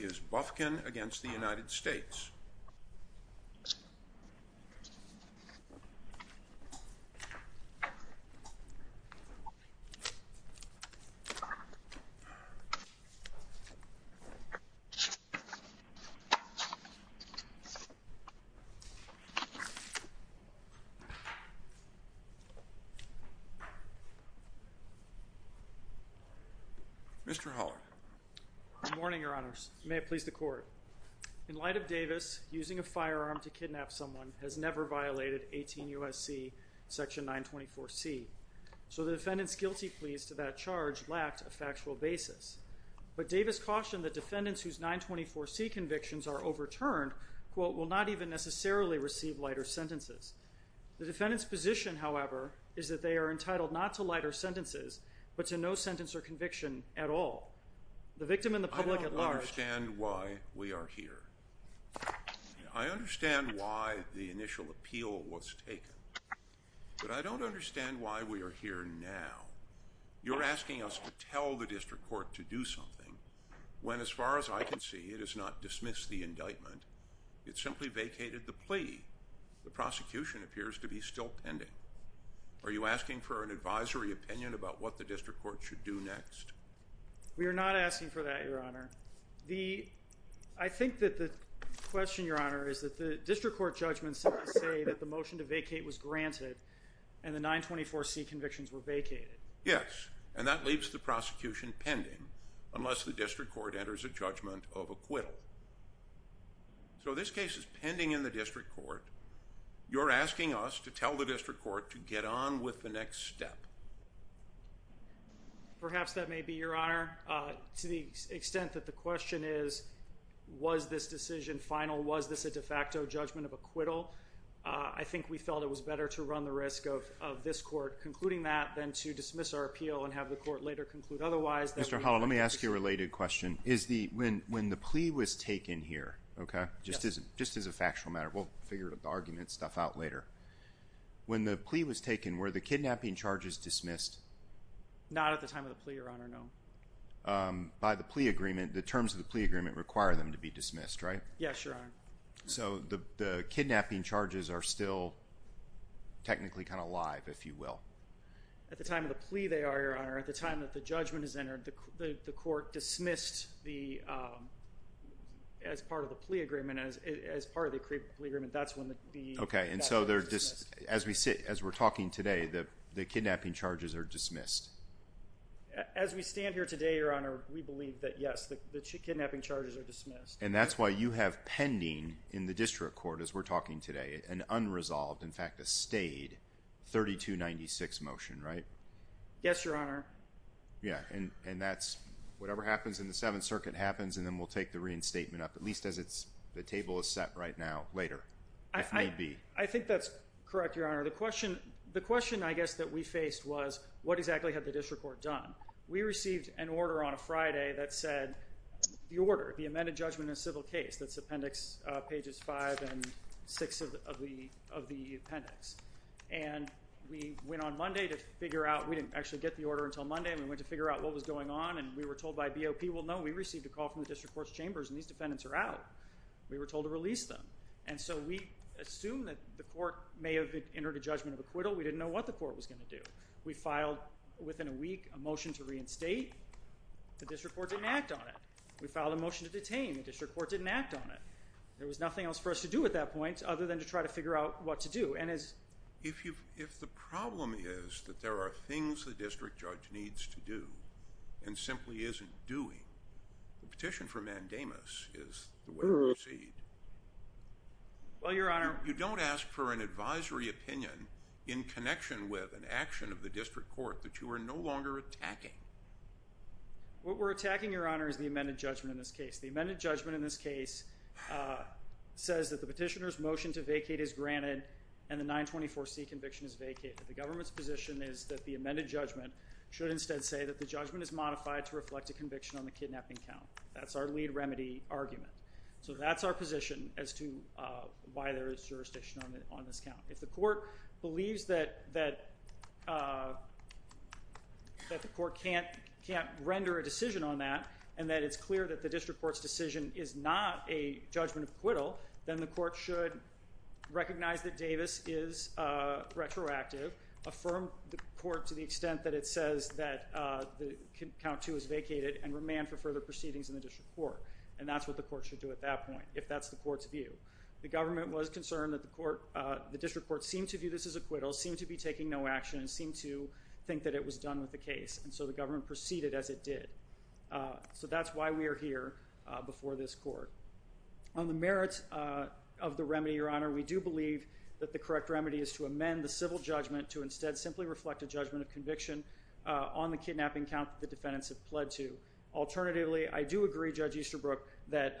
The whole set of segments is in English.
is Bufkin against the United States. Mr. Hallard. Good morning, Your Honors. In light of Davis, using a firearm to kidnap someone has never violated 18 U.S.C. section 924C. So the defendant's guilty pleas to that charge lacked a factual basis. But Davis cautioned that defendants whose 924C convictions are overturned, quote, will not even necessarily receive lighter sentences. The defendant's position, however, is that they are entitled not to lighter sentences, but to no sentence or conviction at all. I don't understand why we are here. I understand why the initial appeal was taken. But I don't understand why we are here now. You're asking us to tell the district court to do something, when as far as I can see, it has not dismissed the indictment. It simply vacated the plea. The prosecution appears to be still pending. Are you asking for an advisory opinion about what the district court should do next? We are not asking for that, Your Honor. I think that the question, Your Honor, is that the district court judgments simply say that the motion to vacate was granted and the 924C convictions were vacated. Yes, and that leaves the prosecution pending unless the district court enters a judgment of acquittal. So this case is pending in the district court. You're asking us to tell the district court to get on with the next step. Perhaps that may be, Your Honor. To the extent that the question is, was this decision final? Was this a de facto judgment of acquittal? I think we felt it was better to run the risk of this court concluding that than to dismiss our appeal and have the court later conclude otherwise. Mr. Hall, let me ask you a related question. When the plea was taken here, just as a factual matter, we'll figure the argument stuff out later. When the plea was taken, were the kidnapping charges dismissed? Not at the time of the plea, Your Honor, no. By the plea agreement, the terms of the plea agreement require them to be dismissed, right? Yes, Your Honor. So the kidnapping charges are still technically kind of live, if you will. At the time of the plea, they are, Your Honor. At the time that the judgment is entered, the court dismissed the, as part of the plea agreement, that's when the kidnapping charges are dismissed. Okay, and so as we're talking today, the kidnapping charges are dismissed? As we stand here today, Your Honor, we believe that, yes, the kidnapping charges are dismissed. And that's why you have pending in the district court, as we're talking today, an unresolved, in fact a stayed, 3296 motion, right? Yes, Your Honor. Yes, and that's whatever happens in the Seventh Circuit happens, and then we'll take the reinstatement up, at least as the table is set right now, later, if need be. I think that's correct, Your Honor. The question, I guess, that we faced was what exactly had the district court done? We received an order on a Friday that said the order, the amended judgment in a civil case, that's appendix pages 5 and 6 of the appendix. And we went on Monday to figure out, we didn't actually get the order until Monday, and we went to figure out what was going on, and we were told by BOP, well, no, we received a call from the district court's chambers, and these defendants are out. We were told to release them. And so we assumed that the court may have entered a judgment of acquittal. We didn't know what the court was going to do. We filed, within a week, a motion to reinstate. The district court didn't act on it. We filed a motion to detain. The district court didn't act on it. There was nothing else for us to do at that point other than to try to figure out what to do. If the problem is that there are things the district judge needs to do and simply isn't doing, the petition for mandamus is the way to proceed. Well, Your Honor. You don't ask for an advisory opinion in connection with an action of the district court that you are no longer attacking. What we're attacking, Your Honor, is the amended judgment in this case. The amended judgment in this case says that the petitioner's motion to vacate is granted and the 924C conviction is vacated. The government's position is that the amended judgment should instead say that the judgment is modified to reflect a conviction on the kidnapping count. That's our lead remedy argument. So that's our position as to why there is jurisdiction on this count. If the court believes that the court can't render a decision on that and that it's clear that the district court's decision is not a judgment of acquittal, then the court should recognize that Davis is retroactive, affirm the court to the extent that it says that count 2 is vacated, and remand for further proceedings in the district court. And that's what the court should do at that point, if that's the court's view. The government was concerned that the district court seemed to view this as acquittal, seemed to be taking no action, and seemed to think that it was done with the case. And so the government proceeded as it did. So that's why we are here before this court. On the merits of the remedy, Your Honor, we do believe that the correct remedy is to amend the civil judgment to instead simply reflect a judgment of conviction on the kidnapping count that the defendants have pled to. Alternatively, I do agree, Judge Easterbrook, that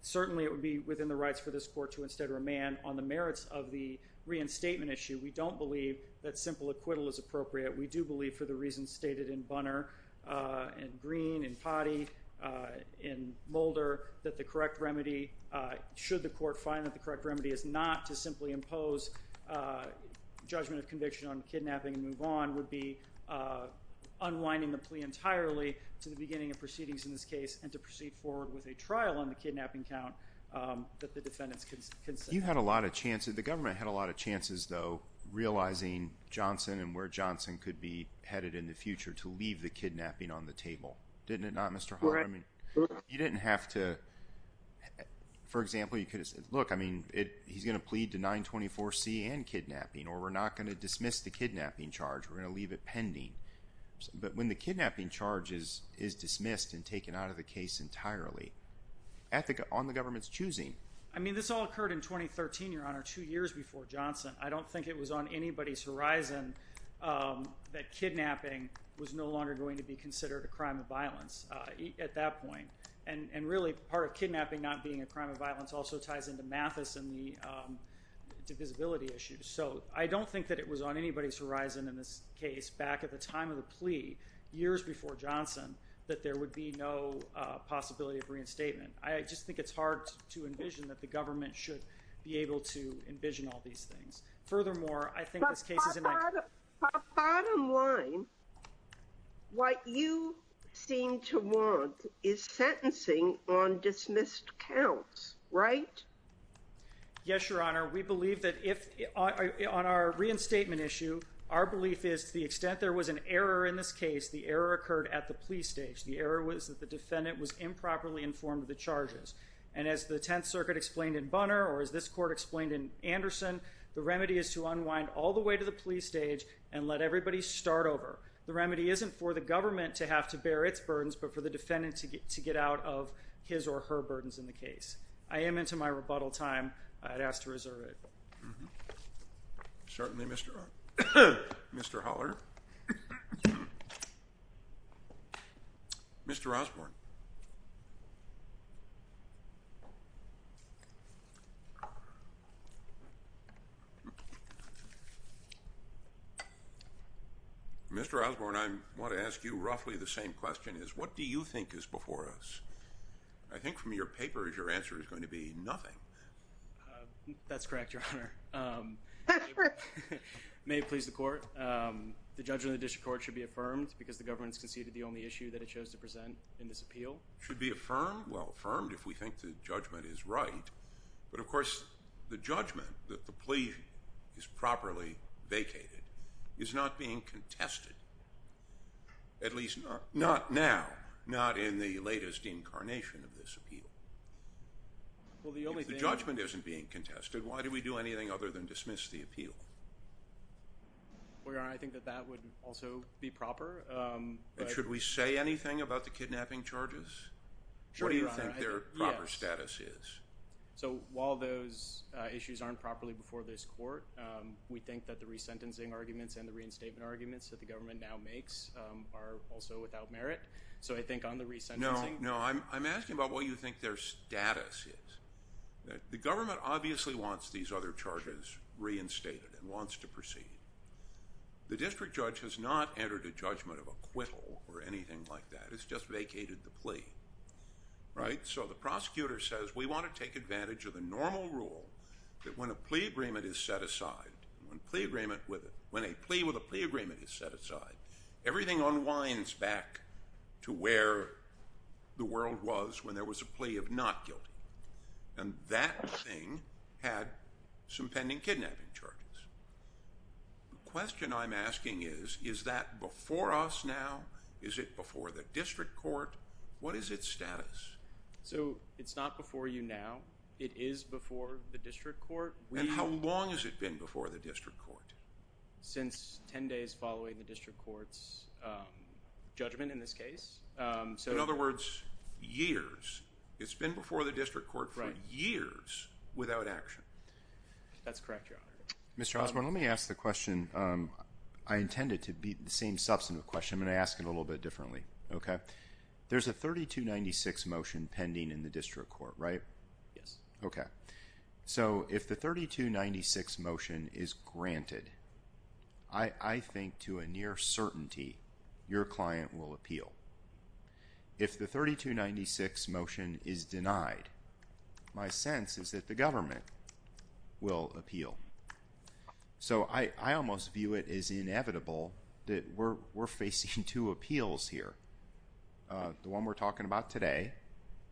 certainly it would be within the rights for this court to instead remand. On the merits of the reinstatement issue, we don't believe that simple acquittal is appropriate. We do believe, for the reasons stated in Bunner, in Green, in Potty, in Mulder, that the correct remedy, should the court find that the correct remedy is not to simply impose judgment of conviction on kidnapping and move on, would be unwinding the plea entirely to the beginning of proceedings in this case and to proceed forward with a trial on the kidnapping count that the defendants consent. You had a lot of chances, the government had a lot of chances, though, realizing Johnson and where Johnson could be headed in the future to leave the kidnapping on the table. Didn't it not, Mr. Hart? You didn't have to, for example, you could have said, look, I mean, he's going to plead to 924C and kidnapping, or we're not going to dismiss the kidnapping charge. We're going to leave it pending. But when the kidnapping charge is dismissed and taken out of the case entirely, on the government's choosing. I mean, this all occurred in 2013, Your Honor, two years before Johnson. I don't think it was on anybody's horizon that kidnapping was no longer going to be considered a crime of violence at that point. And really, part of kidnapping not being a crime of violence also ties into Mathis and the divisibility issue. So I don't think that it was on anybody's horizon in this case, back at the time of the plea, years before Johnson, that there would be no possibility of reinstatement. I just think it's hard to envision that the government should be able to envision all these things. Furthermore, I think this case is in my- Bottom line, what you seem to want is sentencing on dismissed counts, right? Yes, Your Honor. We believe that if on our reinstatement issue, our belief is to the extent there was an error in this case, the error occurred at the plea stage. The error was that the defendant was improperly informed of the charges. And as the Tenth Circuit explained in Bunner, or as this court explained in Anderson, the remedy is to unwind all the way to the plea stage and let everybody start over. The remedy isn't for the government to have to bear its burdens, but for the defendant to get out of his or her burdens in the case. I am into my rebuttal time. I'd ask to reserve it. Certainly, Mr. Holler. Mr. Osborne. Mr. Osborne, I want to ask you roughly the same question, is what do you think is before us? I think from your papers, your answer is going to be nothing. That's correct, Your Honor. May it please the court. The judgment of the district court should be affirmed because the government has conceded the only issue that it chose to present in this appeal. Should be affirmed? Well, affirmed if we think the judgment is right. But, of course, the judgment that the plea is properly vacated is not being contested, at least not now, not in the latest incarnation of this appeal. If the judgment isn't being contested, why do we do anything other than dismiss the appeal? Well, Your Honor, I think that that would also be proper. Should we say anything about the kidnapping charges? Sure, Your Honor. What do you think their proper status is? So while those issues aren't properly before this court, we think that the resentencing arguments and the reinstatement arguments that the government now makes are also without merit. So I think on the resentencing— No, I'm asking about what you think their status is. The government obviously wants these other charges reinstated and wants to proceed. The district judge has not entered a judgment of acquittal or anything like that. It's just vacated the plea, right? So the prosecutor says we want to take advantage of the normal rule that when a plea agreement is set aside, when a plea with a plea agreement is set aside, everything unwinds back to where the world was when there was a plea of not guilty. And that thing had some pending kidnapping charges. The question I'm asking is, is that before us now? Is it before the district court? What is its status? So it's not before you now. It is before the district court. And how long has it been before the district court? Since 10 days following the district court's judgment in this case. In other words, years. It's been before the district court for years without action. That's correct, Your Honor. Mr. Osborne, let me ask the question. I intend it to be the same substantive question. I'm going to ask it a little bit differently. There's a 3296 motion pending in the district court, right? Yes. So if the 3296 motion is granted, I think to a near certainty your client will appeal. If the 3296 motion is denied, my sense is that the government will appeal. So I almost view it as inevitable that we're facing two appeals here, the one we're talking about today,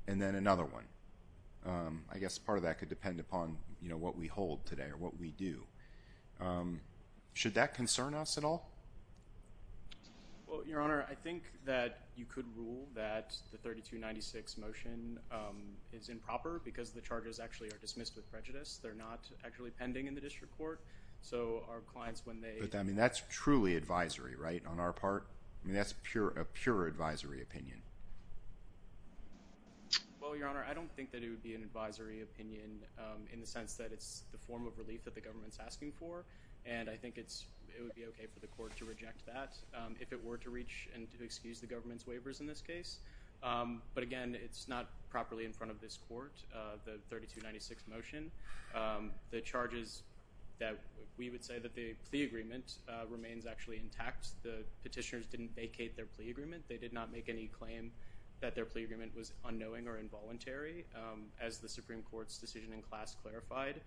and then another one. I guess part of that could depend upon, you know, what we hold today or what we do. Should that concern us at all? Well, Your Honor, I think that you could rule that the 3296 motion is improper because the charges actually are dismissed with prejudice. They're not actually pending in the district court. So our clients, when they – But, I mean, that's truly advisory, right, on our part? I mean, that's a pure advisory opinion. Well, Your Honor, I don't think that it would be an advisory opinion in the sense that it's the form of relief that the government is asking for, and I think it would be okay for the court to reject that if it were to reach and to excuse the government's waivers in this case. But, again, it's not properly in front of this court, the 3296 motion. The charges that we would say that the plea agreement remains actually intact. The petitioners didn't vacate their plea agreement. They did not make any claim that their plea agreement was unknowing or involuntary. As the Supreme Court's decision in class clarified,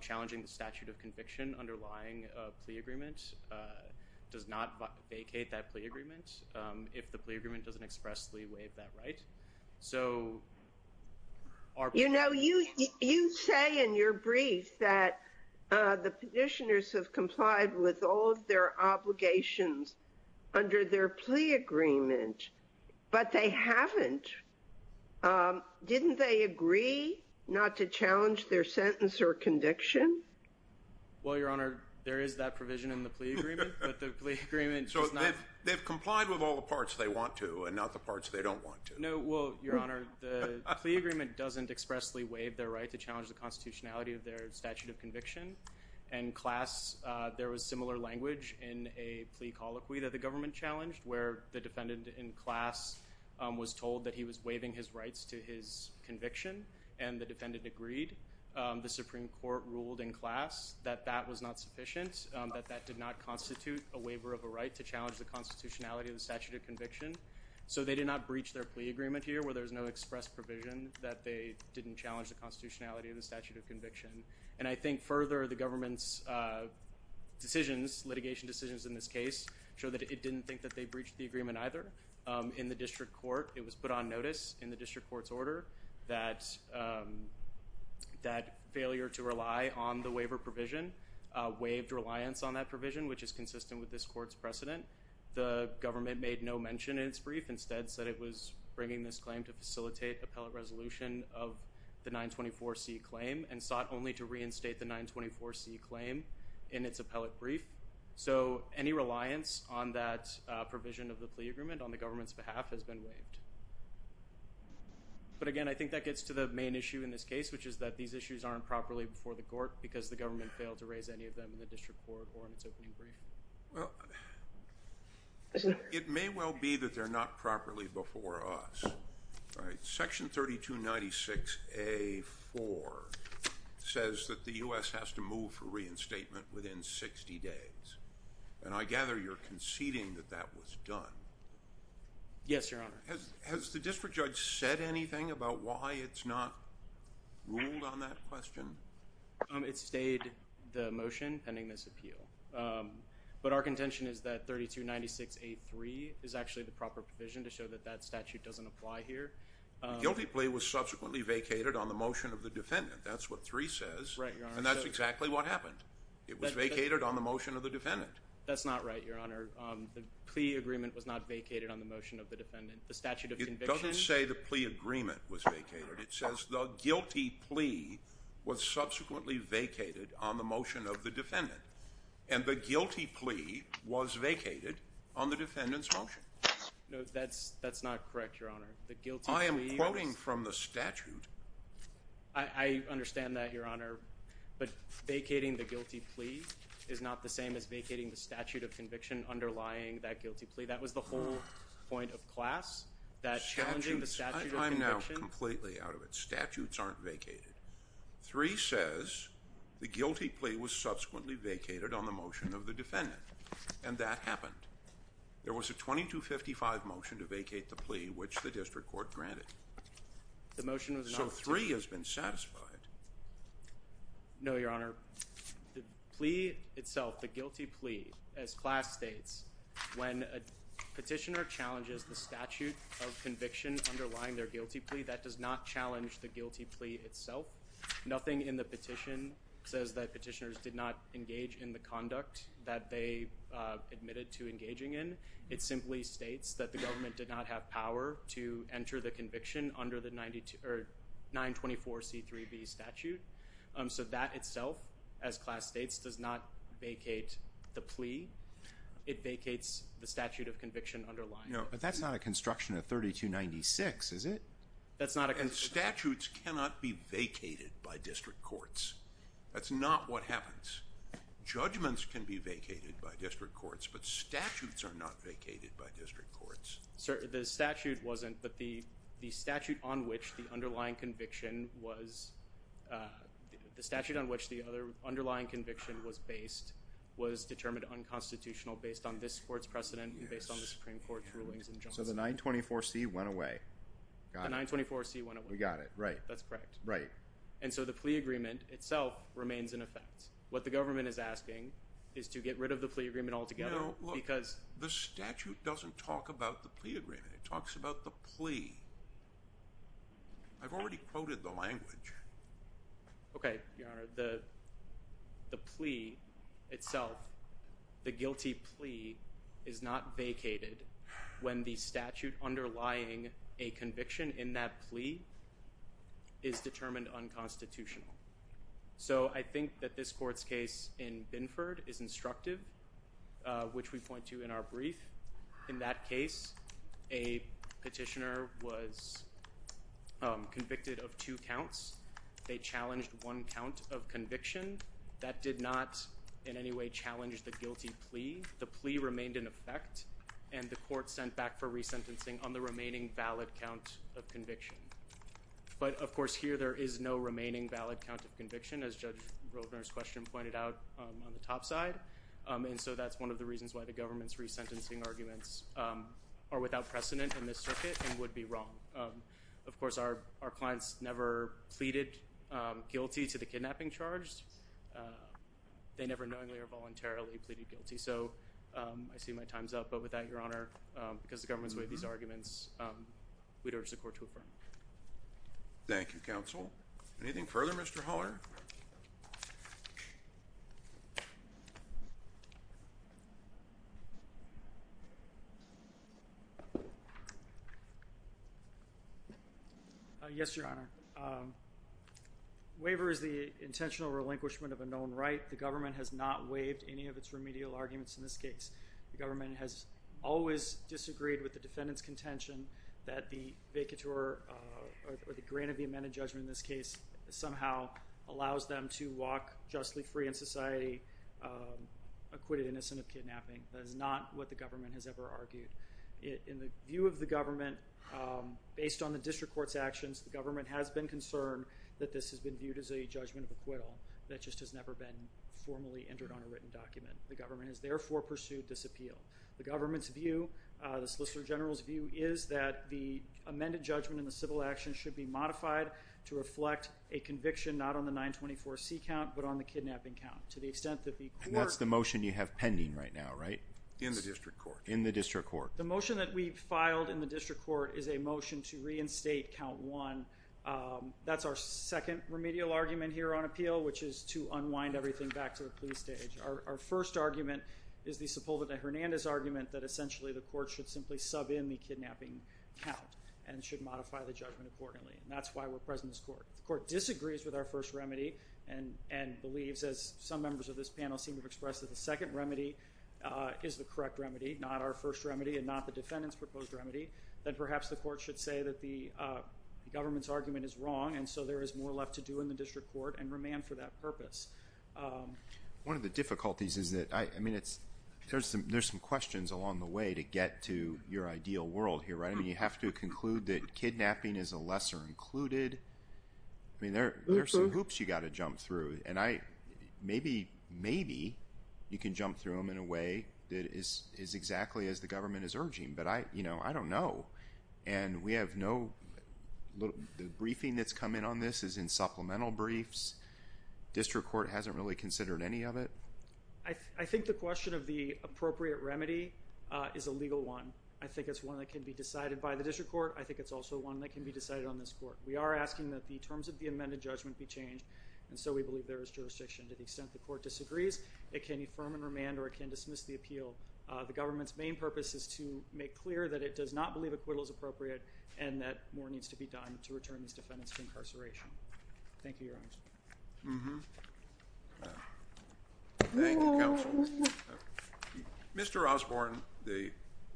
challenging the statute of conviction underlying a plea agreement does not vacate that plea agreement if the plea agreement doesn't expressly waive that right. You know, you say in your brief that the petitioners have complied with all of their obligations under their plea agreement, but they haven't. Didn't they agree not to challenge their sentence or conviction? Well, Your Honor, there is that provision in the plea agreement, but the plea agreement does not. So they've complied with all the parts they want to and not the parts they don't want to. No, well, Your Honor, the plea agreement doesn't expressly waive their right to challenge the constitutionality of their statute of conviction. In class, there was similar language in a plea colloquy that the government challenged where the defendant in class was told that he was waiving his rights to his conviction, and the defendant agreed. The Supreme Court ruled in class that that was not sufficient, that that did not constitute a waiver of a right to challenge the constitutionality of the statute of conviction. So they did not breach their plea agreement here where there was no express provision that they didn't challenge the constitutionality of the statute of conviction. And I think further, the government's decisions, litigation decisions in this case, show that it didn't think that they breached the agreement either. In the district court, it was put on notice in the district court's order that failure to rely on the waiver provision waived reliance on that provision, which is consistent with this court's precedent. The government made no mention in its brief. Instead, said it was bringing this claim to facilitate appellate resolution of the 924C claim and sought only to reinstate the 924C claim in its appellate brief. So any reliance on that provision of the plea agreement on the government's behalf has been waived. But again, I think that gets to the main issue in this case, which is that these issues aren't properly before the court because the government failed to raise any of them in the district court or in its opening brief. It may well be that they're not properly before us. All right. Section 3296A.4 says that the U.S. has to move for reinstatement within 60 days. And I gather you're conceding that that was done. Yes, Your Honor. Has the district judge said anything about why it's not ruled on that question? It stayed the motion pending this appeal. But our contention is that 3296A.3 is actually the proper provision to show that that statute doesn't apply here. The guilty plea was subsequently vacated on the motion of the defendant. That's what 3 says. And that's exactly what happened. It was vacated on the motion of the defendant. That's not right, Your Honor. The plea agreement was not vacated on the motion of the defendant. The statute of conviction – It doesn't say the plea agreement was vacated. It says the guilty plea was subsequently vacated on the motion of the defendant. And the guilty plea was vacated on the defendant's motion. No, that's not correct, Your Honor. The guilty plea was – I am quoting from the statute. I understand that, Your Honor. But vacating the guilty plea is not the same as vacating the statute of conviction underlying that guilty plea. That was the whole point of class, that challenging the statute of conviction – I'm now completely out of it. Statutes aren't vacated. 3 says the guilty plea was subsequently vacated on the motion of the defendant. And that happened. There was a 2255 motion to vacate the plea, which the district court granted. The motion was not – So 3 has been satisfied. No, Your Honor. The plea itself, the guilty plea, as class states, when a petitioner challenges the statute of conviction underlying their guilty plea, that does not challenge the guilty plea itself. Nothing in the petition says that petitioners did not engage in the conduct that they admitted to engaging in. It simply states that the government did not have power to enter the conviction under the 924C3B statute. So that itself, as class states, does not vacate the plea. It vacates the statute of conviction underlying it. No, but that's not a construction of 3296, is it? That's not a – And statutes cannot be vacated by district courts. That's not what happens. Judgments can be vacated by district courts, but statutes are not vacated by district courts. Sir, the statute wasn't, but the statute on which the underlying conviction was – the statute on which the underlying conviction was based was determined unconstitutional based on this Court's precedent and based on the Supreme Court's rulings and judgment. So the 924C went away. Got it. The 924C went away. We got it, right. That's correct. Right. And so the plea agreement itself remains in effect. What the government is asking is to get rid of the plea agreement altogether. No, look. Because – The statute doesn't talk about the plea agreement. It talks about the plea. I've already quoted the language. Okay, Your Honor. The plea itself, the guilty plea, is not vacated when the statute underlying a conviction in that plea is determined unconstitutional. So I think that this Court's case in Binford is instructive, which we point to in our brief. In that case, a petitioner was convicted of two counts. They challenged one count of conviction. That did not in any way challenge the guilty plea. The plea remained in effect, and the Court sent back for resentencing on the remaining valid count of conviction. But, of course, here there is no remaining valid count of conviction, as Judge Roedner's question pointed out on the top side. And so that's one of the reasons why the government's resentencing arguments are without precedent in this circuit and would be wrong. Of course, our clients never pleaded guilty to the kidnapping charge. They never knowingly or voluntarily pleaded guilty. So I see my time's up. But with that, Your Honor, because the government's made these arguments, we'd urge the Court to affirm. Thank you, Counsel. Anything further, Mr. Haller? Yes, Your Honor. Waiver is the intentional relinquishment of a known right. The government has not waived any of its remedial arguments in this case. The government has always disagreed with the defendant's contention that the vacatur or the grant of the amended judgment in this case somehow allows them to walk justly free in society, acquitted innocent of kidnapping. That is not what the government has ever argued. In the view of the government, based on the district court's actions, the government has been concerned that this has been viewed as a judgment of acquittal. That just has never been formally entered on a written document. The government has therefore pursued disappeal. The government's view, the Solicitor General's view, is that the amended judgment in the civil action should be modified to reflect a conviction not on the 924C count but on the kidnapping count. To the extent that the court... And that's the motion you have pending right now, right? In the district court. In the district court. The motion that we filed in the district court is a motion to reinstate count one. That's our second remedial argument here on appeal, which is to unwind everything back to the plea stage. Our first argument is the Sepulveda-Hernandez argument that essentially the court should simply sub in the kidnapping count and should modify the judgment accordingly, and that's why we're present in this court. The court disagrees with our first remedy and believes, as some members of this panel seem to have expressed, that the second remedy is the correct remedy, not our first remedy and not the defendant's proposed remedy, then perhaps the court should say that the government's argument is wrong and so there is more left to do in the district court and remand for that purpose. One of the difficulties is that, I mean, there's some questions along the way to get to your ideal world here, right? I mean, you have to conclude that kidnapping is a lesser included... I mean, there are some hoops you've got to jump through, and maybe you can jump through them in a way that is exactly as the government is urging, but I don't know, and we have no... The briefing that's come in on this is in supplemental briefs. District court hasn't really considered any of it. I think the question of the appropriate remedy is a legal one. I think it's one that can be decided by the district court. I think it's also one that can be decided on this court. We are asking that the terms of the amended judgment be changed, and so we believe there is jurisdiction to the extent the court disagrees. It can affirm and remand or it can dismiss the appeal. The government's main purpose is to make clear that it does not believe acquittal is appropriate and that more needs to be done to return these defendants to incarceration. Thank you, Your Honor. Thank you, counsel. Mr. Osborne, the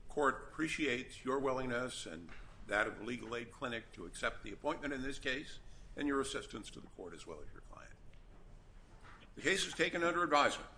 court appreciates your willingness and that of the Legal Aid Clinic to accept the appointment in this case and your assistance to the court as well as your client. The case is taken under advisement.